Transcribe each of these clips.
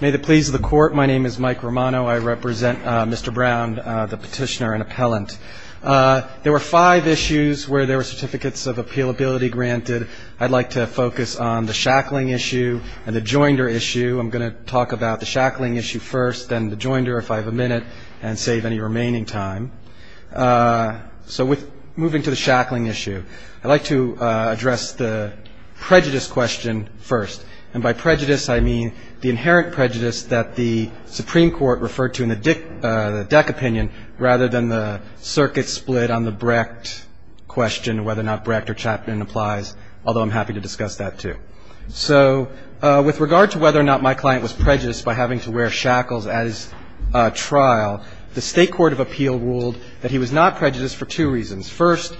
May the pleas of the court. My name is Mike Romano. I represent Mr. Brown, the petitioner and appellant. There were five issues where there were certificates of appealability granted. I'd like to focus on the shackling issue and the joinder issue. I'm going to talk about the shackling issue first, then the joinder if I have a minute, and save any remaining time. So moving to the shackling issue, I'd like to address the prejudice question first. And by prejudice, I mean the inherent prejudice that the Supreme Court referred to in the DEC opinion rather than the circuit split on the Brecht question, whether or not Brecht or Chapman applies, although I'm happy to discuss that too. So with regard to whether or not my client was prejudiced by having to wear shackles at his trial, the State Court of Appeal ruled that he was not prejudiced for two reasons. First,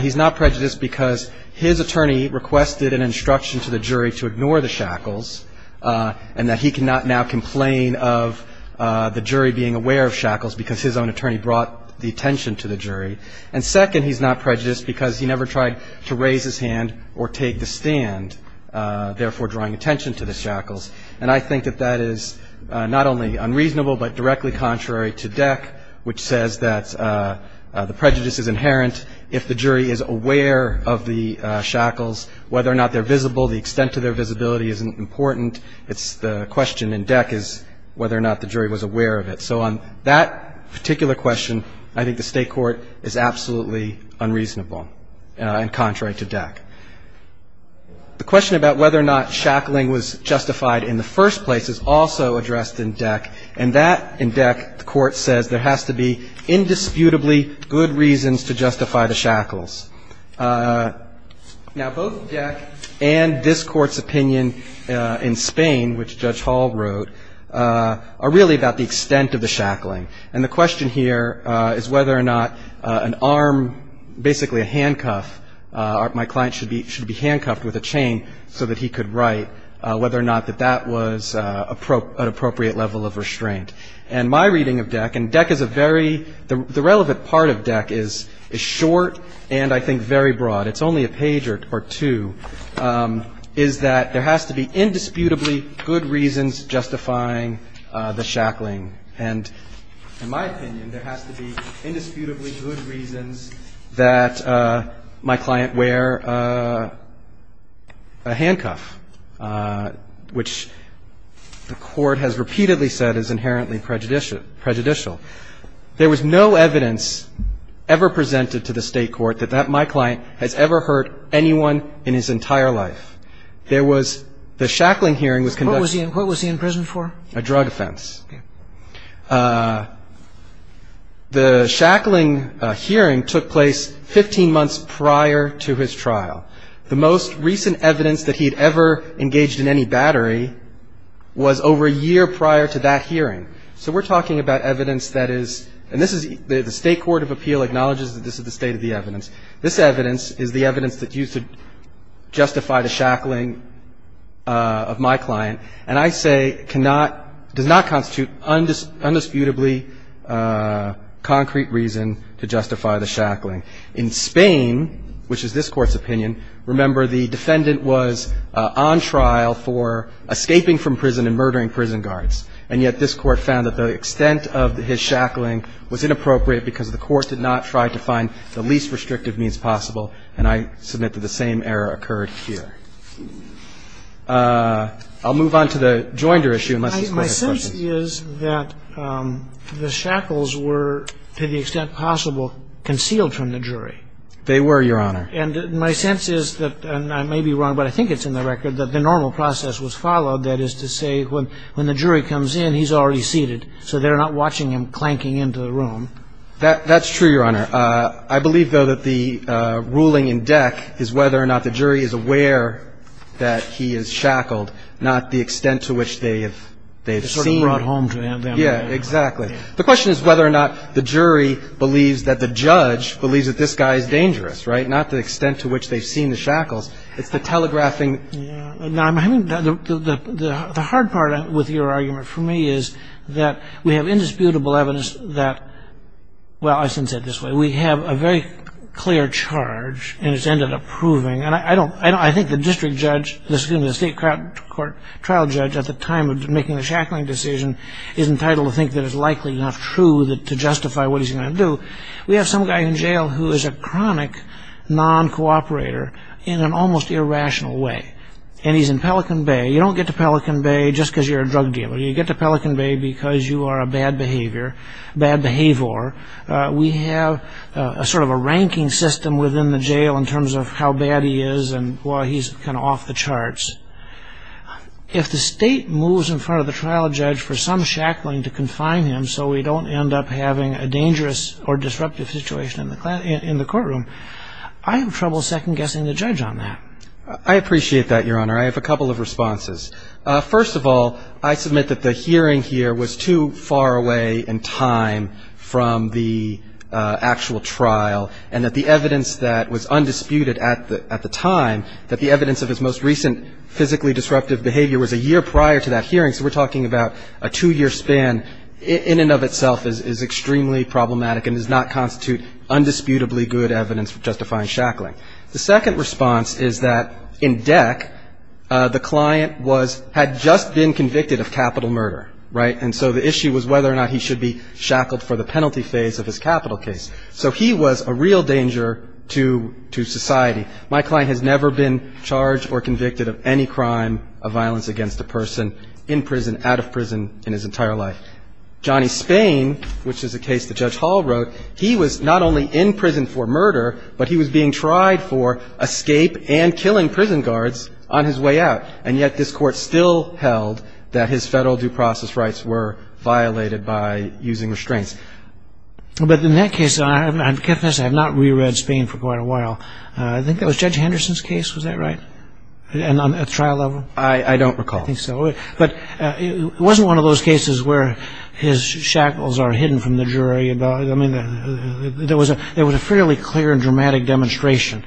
he's not prejudiced because his attorney requested an instruction to the jury to ignore the shackles, and that he cannot now complain of the jury being aware of shackles because his own attorney brought the attention to the jury. And second, he's not prejudiced because he never tried to raise his hand or take the stand, therefore drawing attention to the shackles. And I think that that is not only unreasonable, but directly contrary to DEC, which says that the prejudice is inherent if the jury is not there visible. The extent of their visibility isn't important. It's the question in DEC is whether or not the jury was aware of it. So on that particular question, I think the state court is absolutely unreasonable and contrary to DEC. The question about whether or not shackling was justified in the first place is also addressed in DEC. And that, in DEC, the court says there has to be indisputably good reasons to justify the shackles. Now, both DEC and this court's opinion in Spain, which Judge Hall wrote, are really about the extent of the shackling. And the question here is whether or not an arm, basically a handcuff, my client should be handcuffed with a chain so that he could write, whether or not that that was an appropriate level of restraint. And my reading of DEC, and DEC is a very, the relevant part of DEC is short and I think very broad, it's only a page or two, is that there has to be indisputably good reasons justifying the shackling. And in my opinion, there has to be indisputably good reasons that my client wear a handcuff, which the court has repeatedly said is inherently prejudicial. There was no evidence ever presented to the state court that my client has ever hurt anyone in his entire life. There was, the shackling hearing was conducted. What was he in prison for? A drug offense. The shackling hearing took place 15 months prior to his trial. The most recent evidence that he'd ever engaged in any battery was over a year prior to that hearing. So we're talking about evidence that is, and this is, the state court of appeal acknowledges that this is the state of the evidence. This evidence is the evidence that used to justify the shackling of my client. And I say cannot, does not constitute indisputably concrete reason to justify the shackling. In Spain, which is this court's opinion, remember the defendant was on trial for escaping from prison and murdering prison guards. And yet this court found that the extent of his shackling was inappropriate because the court did not try to find the least restrictive means possible. And I submit that the same error occurred here. I'll move on to the Joinder issue, unless this Court has questions. My sense is that the shackles were, to the extent possible, concealed from the jury. They were, Your Honor. And my sense is that, and I may be wrong, but I think it's in the record, that the normal process was followed. That is to say, when the jury comes in, he's already seated. So they're not watching him clanking into the room. That's true, Your Honor. I believe, though, that the ruling in deck is whether or not the jury is aware that he is shackled, not the extent to which they have seen. Sort of brought home to them. Yeah, exactly. The question is whether or not the jury believes that the judge believes that this guy is dangerous, right? Not the extent to which they've seen the shackles. It's the telegraphing. I'm having, the hard part with your argument for me is that we have indisputable evidence that, well, I shouldn't say it this way. We have a very clear charge, and it's ended up proving. And I think the district judge, excuse me, the state trial judge at the time of making the shackling decision is entitled to think that it's likely enough true to justify what he's going to do. We have some guy in jail who is a chronic non-cooperator in an almost irrational way. And he's in Pelican Bay. You don't get to Pelican Bay just because you're a drug dealer. You get to Pelican Bay because you are a bad behavior, bad behavior. We have a sort of a ranking system within the jail in terms of how bad he is and why he's kind of off the charts. If the state moves in front of the trial judge for some shackling to confine him so we don't end up having a dangerous or disruptive situation in the courtroom, I have trouble second guessing the judge on that. I appreciate that, Your Honor. I have a couple of responses. First of all, I submit that the hearing here was too far away in time from the actual trial and that the evidence that was undisputed at the time, that the evidence of his most recent physically disruptive behavior was a year prior to that hearing. So we're talking about a two-year span in and of itself is extremely problematic and does not constitute undisputably good evidence for justifying shackling. The second response is that in DEC, the client had just been convicted of capital murder. And so the issue was whether or not he should be shackled for the penalty phase of his capital case. So he was a real danger to society. My client has never been charged or convicted of any crime of violence against a person in prison, out of prison, in his entire life. Johnny Spain, which is a case that Judge Hall wrote, he was not only in prison for murder, but he was being tried for escape and killing prison guards on his way out. And yet this court still held that his federal due process rights were violated by using restraints. But in that case, I have not reread Spain for quite a while. I think that was Judge Henderson's case, was that right? And on the trial level? I don't recall. I think so. But it wasn't one of those cases where his shackles are hidden from the jury. I mean, there was a fairly clear and dramatic demonstration.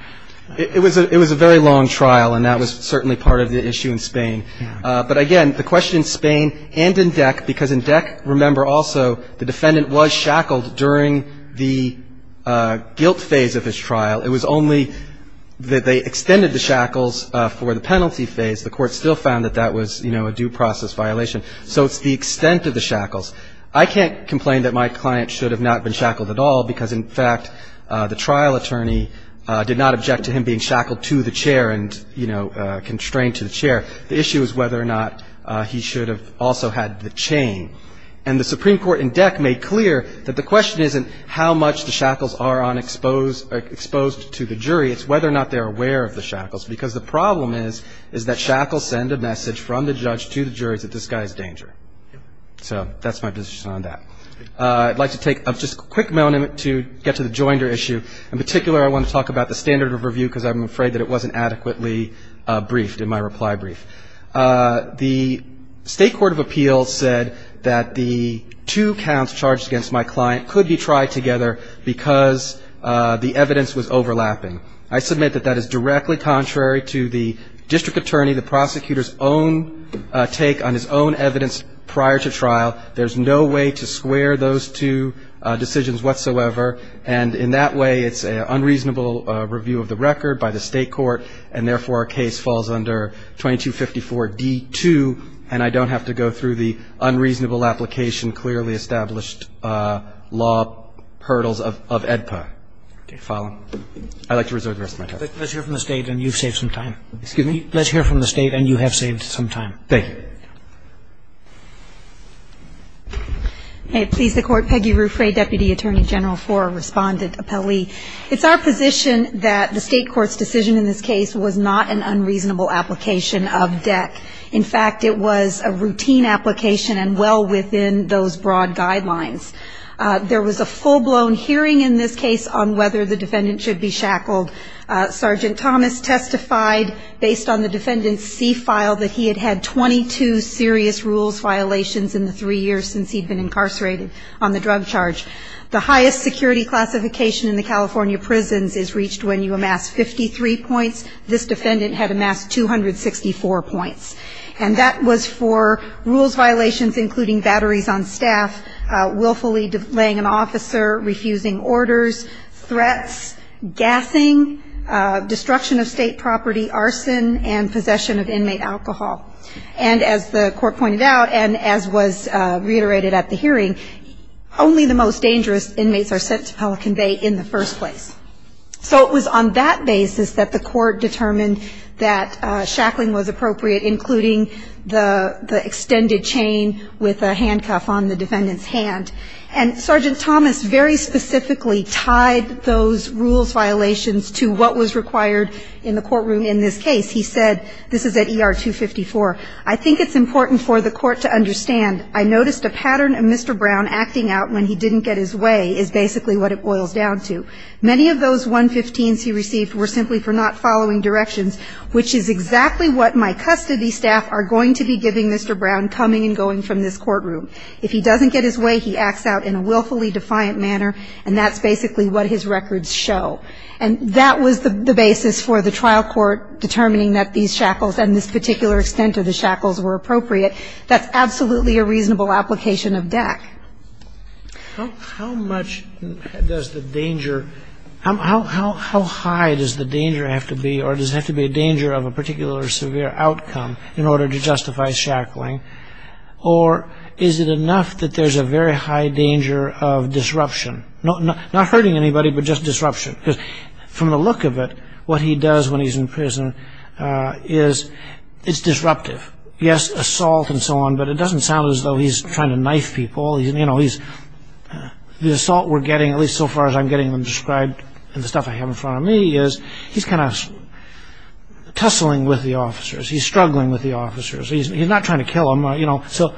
It was a very long trial, and that was certainly part of the issue in Spain. But again, the question in Spain and in DEC, because in DEC, remember also, the defendant was shackled during the guilt phase of his trial. It was only that they extended the shackles for the penalty phase. The court still found that that was a due process violation. So it's the extent of the shackles. I can't complain that my client should have not been shackled at all, because in fact, the trial attorney did not object to him being shackled to the chair and constrained to the chair. The issue is whether or not he should have also had the chain. And the Supreme Court in DEC made clear that the question isn't how much the shackles are exposed to the jury. It's whether or not they're aware of the shackles. Because the problem is that shackles send a message from the judge to the jury that this guy is danger. So that's my position on that. I'd like to take just a quick moment to get to the Joinder issue. In particular, I want to talk about the standard of review, because I'm afraid that it wasn't adequately briefed in my reply brief. The State Court of Appeals said that the two counts charged against my client could be tried together because the evidence was overlapping. I submit that that is directly contrary to the district attorney, the prosecutor's own take on his own evidence prior to trial. There's no way to square those two decisions whatsoever. And in that way, it's an unreasonable review of the record by the state court. And therefore, our case falls under 2254 D2. And I don't have to go through the unreasonable application clearly established law hurdles of AEDPA. Follow? I'd like to reserve the rest of my time. Let's hear from the state, and you've saved some time. Excuse me? Let's hear from the state, and you have saved some time. Thank you. May it please the court. Peggy Ruffray, Deputy Attorney General for Respondent Appellee. It's our position that the state court's decision in this case was not an unreasonable application of DEC. In fact, it was a routine application and well within those broad guidelines. There was a full-blown hearing in this case on whether the defendant should be shackled. Sergeant Thomas testified based on the defendant's C file that he had had 22 serious rules violations in the three years since he'd been incarcerated on the drug charge. The highest security classification in the California prisons is reached when you amass 53 points. This defendant had amassed 264 points. And that was for rules violations, including batteries on staff, willfully delaying an officer, refusing orders, threats, gassing, destruction of state property, arson, and possession of inmate alcohol. And as the court pointed out, and as was reiterated at the hearing, only the most dangerous inmates are sent to Pelican Bay in the first place. So it was on that basis that the court determined that shackling was appropriate, including the extended chain with a handcuff on the defendant's hand. And Sergeant Thomas very specifically tied those rules violations to what was required in the courtroom in this case. This is at ER 254. I think it's important for the court to understand, I noticed a pattern of Mr. Brown acting out when he didn't get his way is basically what it boils down to. Many of those 115s he received were simply for not following directions, which is exactly what my custody staff are going to be giving Mr. Brown coming and going from this courtroom. If he doesn't get his way, he acts out in a willfully defiant manner. And that's basically what his records show. And that was the basis for the trial court determining that these shackles and this particular extent of the shackles were appropriate. That's absolutely a reasonable application of DEC. How much does the danger, how high does the danger have to be, or does it have to be a danger of a particular severe outcome in order to justify shackling? Or is it enough that there's a very high danger of disruption? Not hurting anybody, but just disruption. Because from the look of it, what he does when he's in prison is disruptive. Yes, assault and so on, but it doesn't sound as though he's trying to knife people. The assault we're getting, at least so far as I'm getting them described in the stuff I have in front of me, is he's kind of tussling with the officers. He's struggling with the officers. He's not trying to kill them. So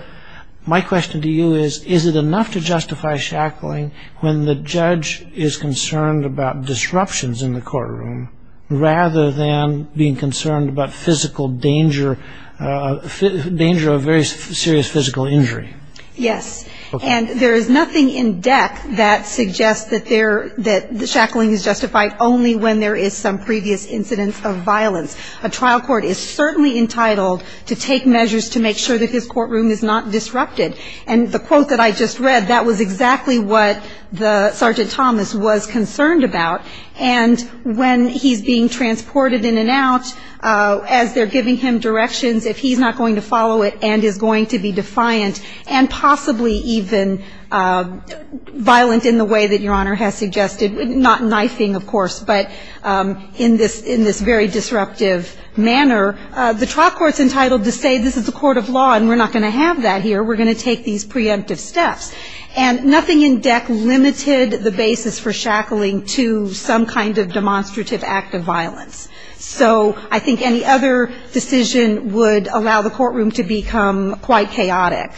my question to you is, is it enough to justify shackling when the judge is concerned about disruptions in the courtroom rather than being concerned about physical danger, danger of very serious physical injury? Yes. And there is nothing in DEC that suggests that the shackling is justified only when there is some previous incidence of violence. A trial court is certainly entitled to take measures to make sure that his courtroom is not disrupted. And the quote that I just read, that was concerned about. And when he's being transported in and out, as they're giving him directions, if he's not going to follow it and is going to be defiant and possibly even violent in the way that Your Honor has suggested, not knifing, of course, but in this very disruptive manner, the trial court's entitled to say, this is a court of law, and we're not going to have that here. We're going to take these preemptive steps. And nothing in DEC limited the basis for shackling to some kind of demonstrative act of violence. So I think any other decision would allow the courtroom to become quite chaotic.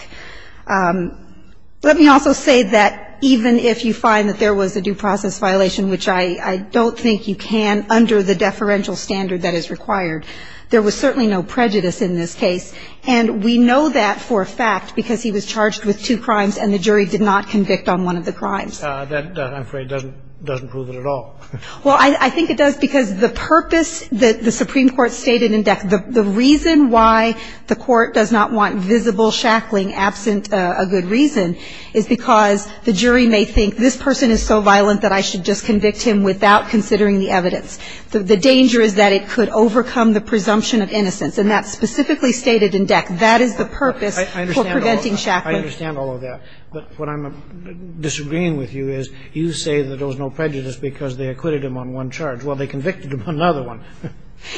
Let me also say that even if you find that there was a due process violation, which I don't think you can under the deferential standard that is required, there was certainly no prejudice in this case. And we know that for a fact, because he was charged with two crimes, and the jury did not convict on one of the crimes. That, I'm afraid, doesn't prove it at all. Well, I think it does, because the purpose that the Supreme Court stated in DEC, the reason why the court does not want visible shackling absent a good reason is because the jury may think, this person is so violent that I should just convict him without considering the evidence. The danger is that it could overcome the presumption of innocence. And that's specifically stated in DEC. That is the purpose for preventing shackling. I understand all of that. But what I'm disagreeing with you is, you say that there was no prejudice because they acquitted him on one charge. Well, they convicted him on another one.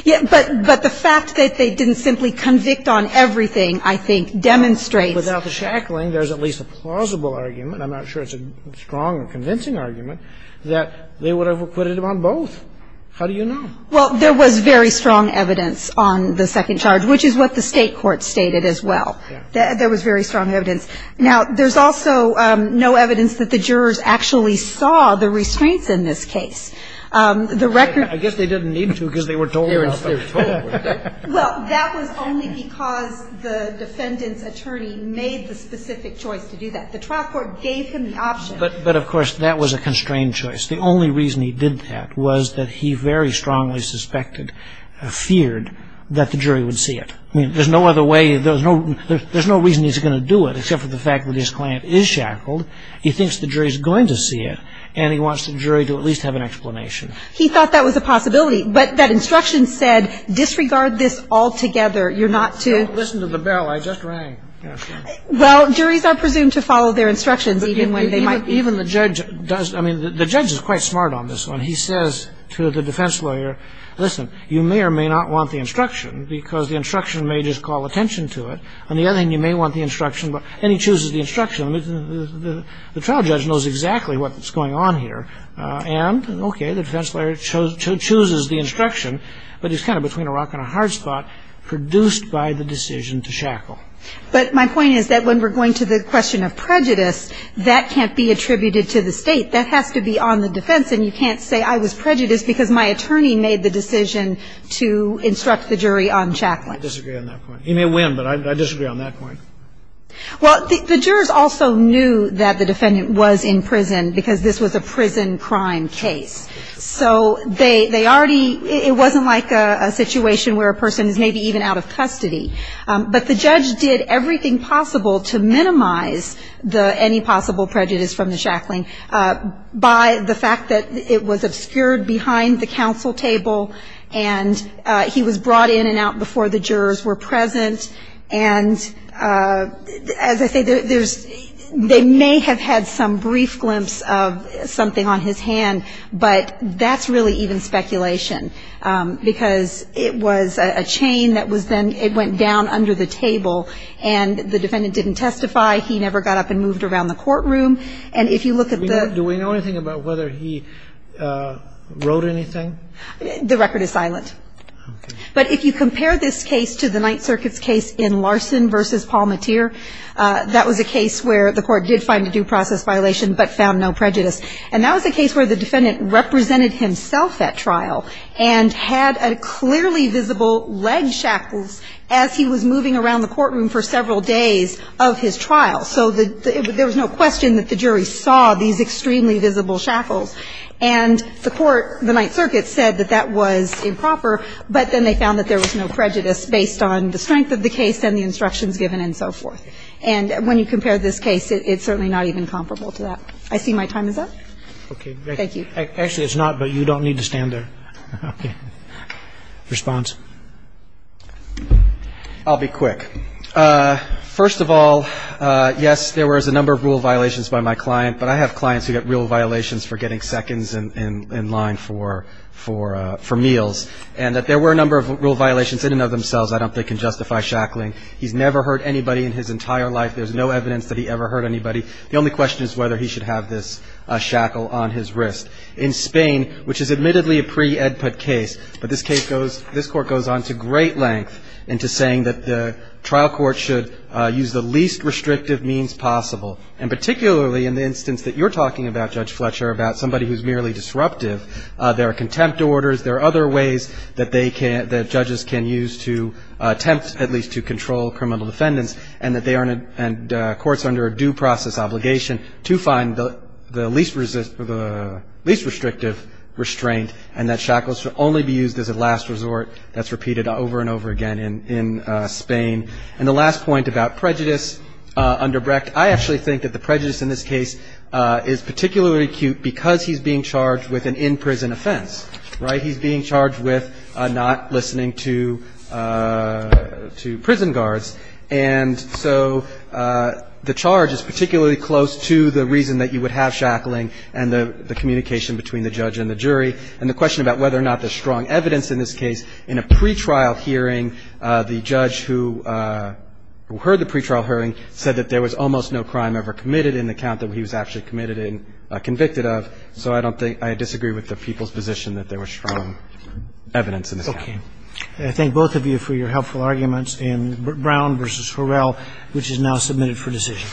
Yeah, but the fact that they didn't simply convict on everything, I think, demonstrates. Without the shackling, there's at least a plausible argument, I'm not sure it's a strong or convincing argument, that they would have acquitted him on both. How do you know? Well, there was very strong evidence on the second charge, which is what the state court stated as well. There was very strong evidence. Now, there's also no evidence that the jurors actually saw the restraints in this case. The record. I guess they didn't need to because they were told what they were told. Well, that was only because the defendant's attorney made the specific choice to do that. The trial court gave him the option. But of course, that was a constrained choice. The only reason he did that was that he very strongly suspected, feared, that the jury would see it. There's no other way, there's no reason he's going to do it, except for the fact that his client is shackled. He thinks the jury is going to see it. And he wants the jury to at least have an explanation. He thought that was a possibility. But that instruction said, disregard this altogether. You're not to. Listen to the bell. I just rang. Well, juries are presumed to follow their instructions, even when they might. Even the judge does. I mean, the judge is quite smart on this one. He says to the defense lawyer, listen, you may or may not want the instruction, because the instruction may just call attention to it. On the other hand, you may want the instruction. And he chooses the instruction. The trial judge knows exactly what's going on here. And OK, the defense lawyer chooses the instruction. But he's kind of between a rock and a hard spot, produced by the decision to shackle. But my point is that when we're going to the question of prejudice, that can't be attributed to the state. That has to be on the defense. And you can't say I was prejudiced because my attorney made the decision to instruct the jury on shackling. Scalia, I disagree on that point. He may win, but I disagree on that point. Well, the jurors also knew that the defendant was in prison because this was a prison crime case. So they already – it wasn't like a situation where a person is maybe even out of custody. But the judge did everything possible to minimize the – any possible prejudice from the shackling by the fact that it was obscured behind the counsel table. And he was brought in and out before the jurors were present. And as I say, there's – they may have had some brief glimpse of something on his hand. But that's really even speculation. Because it was a chain that was then – it went down under the table. And the defendant didn't testify. He never got up and moved around the courtroom. And if you look at the – Do we know anything about whether he wrote anything? The record is silent. But if you compare this case to the Ninth Circuit's case in Larson v. Palmateer, that was a case where the court did find a due process violation but found no prejudice. And that was a case where the defendant represented himself at trial and had a clearly visible leg shackles as he was moving around the courtroom for several days of his trial. So there was no question that the jury saw these extremely visible shackles. And the court, the Ninth Circuit, said that that was improper. But then they found that there was no prejudice based on the strength of the case and the instructions given and so forth. And when you compare this case, it's certainly not even comparable to that. I see my time is up. Okay. Thank you. Actually, it's not, but you don't need to stand there. Okay. Response? I'll be quick. First of all, yes, there was a number of rule violations by my client, but I have clients who get rule violations for getting seconds in line for meals. And that there were a number of rule violations in and of themselves, I don't think can justify shackling. He's never hurt anybody in his entire life. There's no evidence that he ever hurt anybody. The only question is whether he should have this shackle on his wrist. In Spain, which is admittedly a pre-Edput case, but this case goes, this court goes on to great length into saying that the trial court should use the least restrictive means possible. And particularly in the instance that you're talking about, Judge Fletcher, about somebody who's merely disruptive. There are contempt orders, there are other ways that they can, that judges can use to attempt at least to control criminal defendants. And that courts are under a due process obligation to find the least restrictive restraint. And that shackles should only be used as a last resort. That's repeated over and over again in Spain. And the last point about prejudice under Brecht. I actually think that the prejudice in this case is particularly acute because he's being charged with an in-prison offense, right? He's being charged with not listening to prison guards. And so the charge is particularly close to the reason that you would have shackling and the communication between the judge and the jury. And the question about whether or not there's strong evidence in this case. In a pre-trial hearing, the judge who heard the pre-trial hearing said that there was almost no crime ever committed in the count that he was actually committed in, convicted of. So I don't think, I disagree with the people's position that there was strong evidence in this count. I thank both of you for your helpful arguments. And Brown versus Horrell, which is now submitted for decision.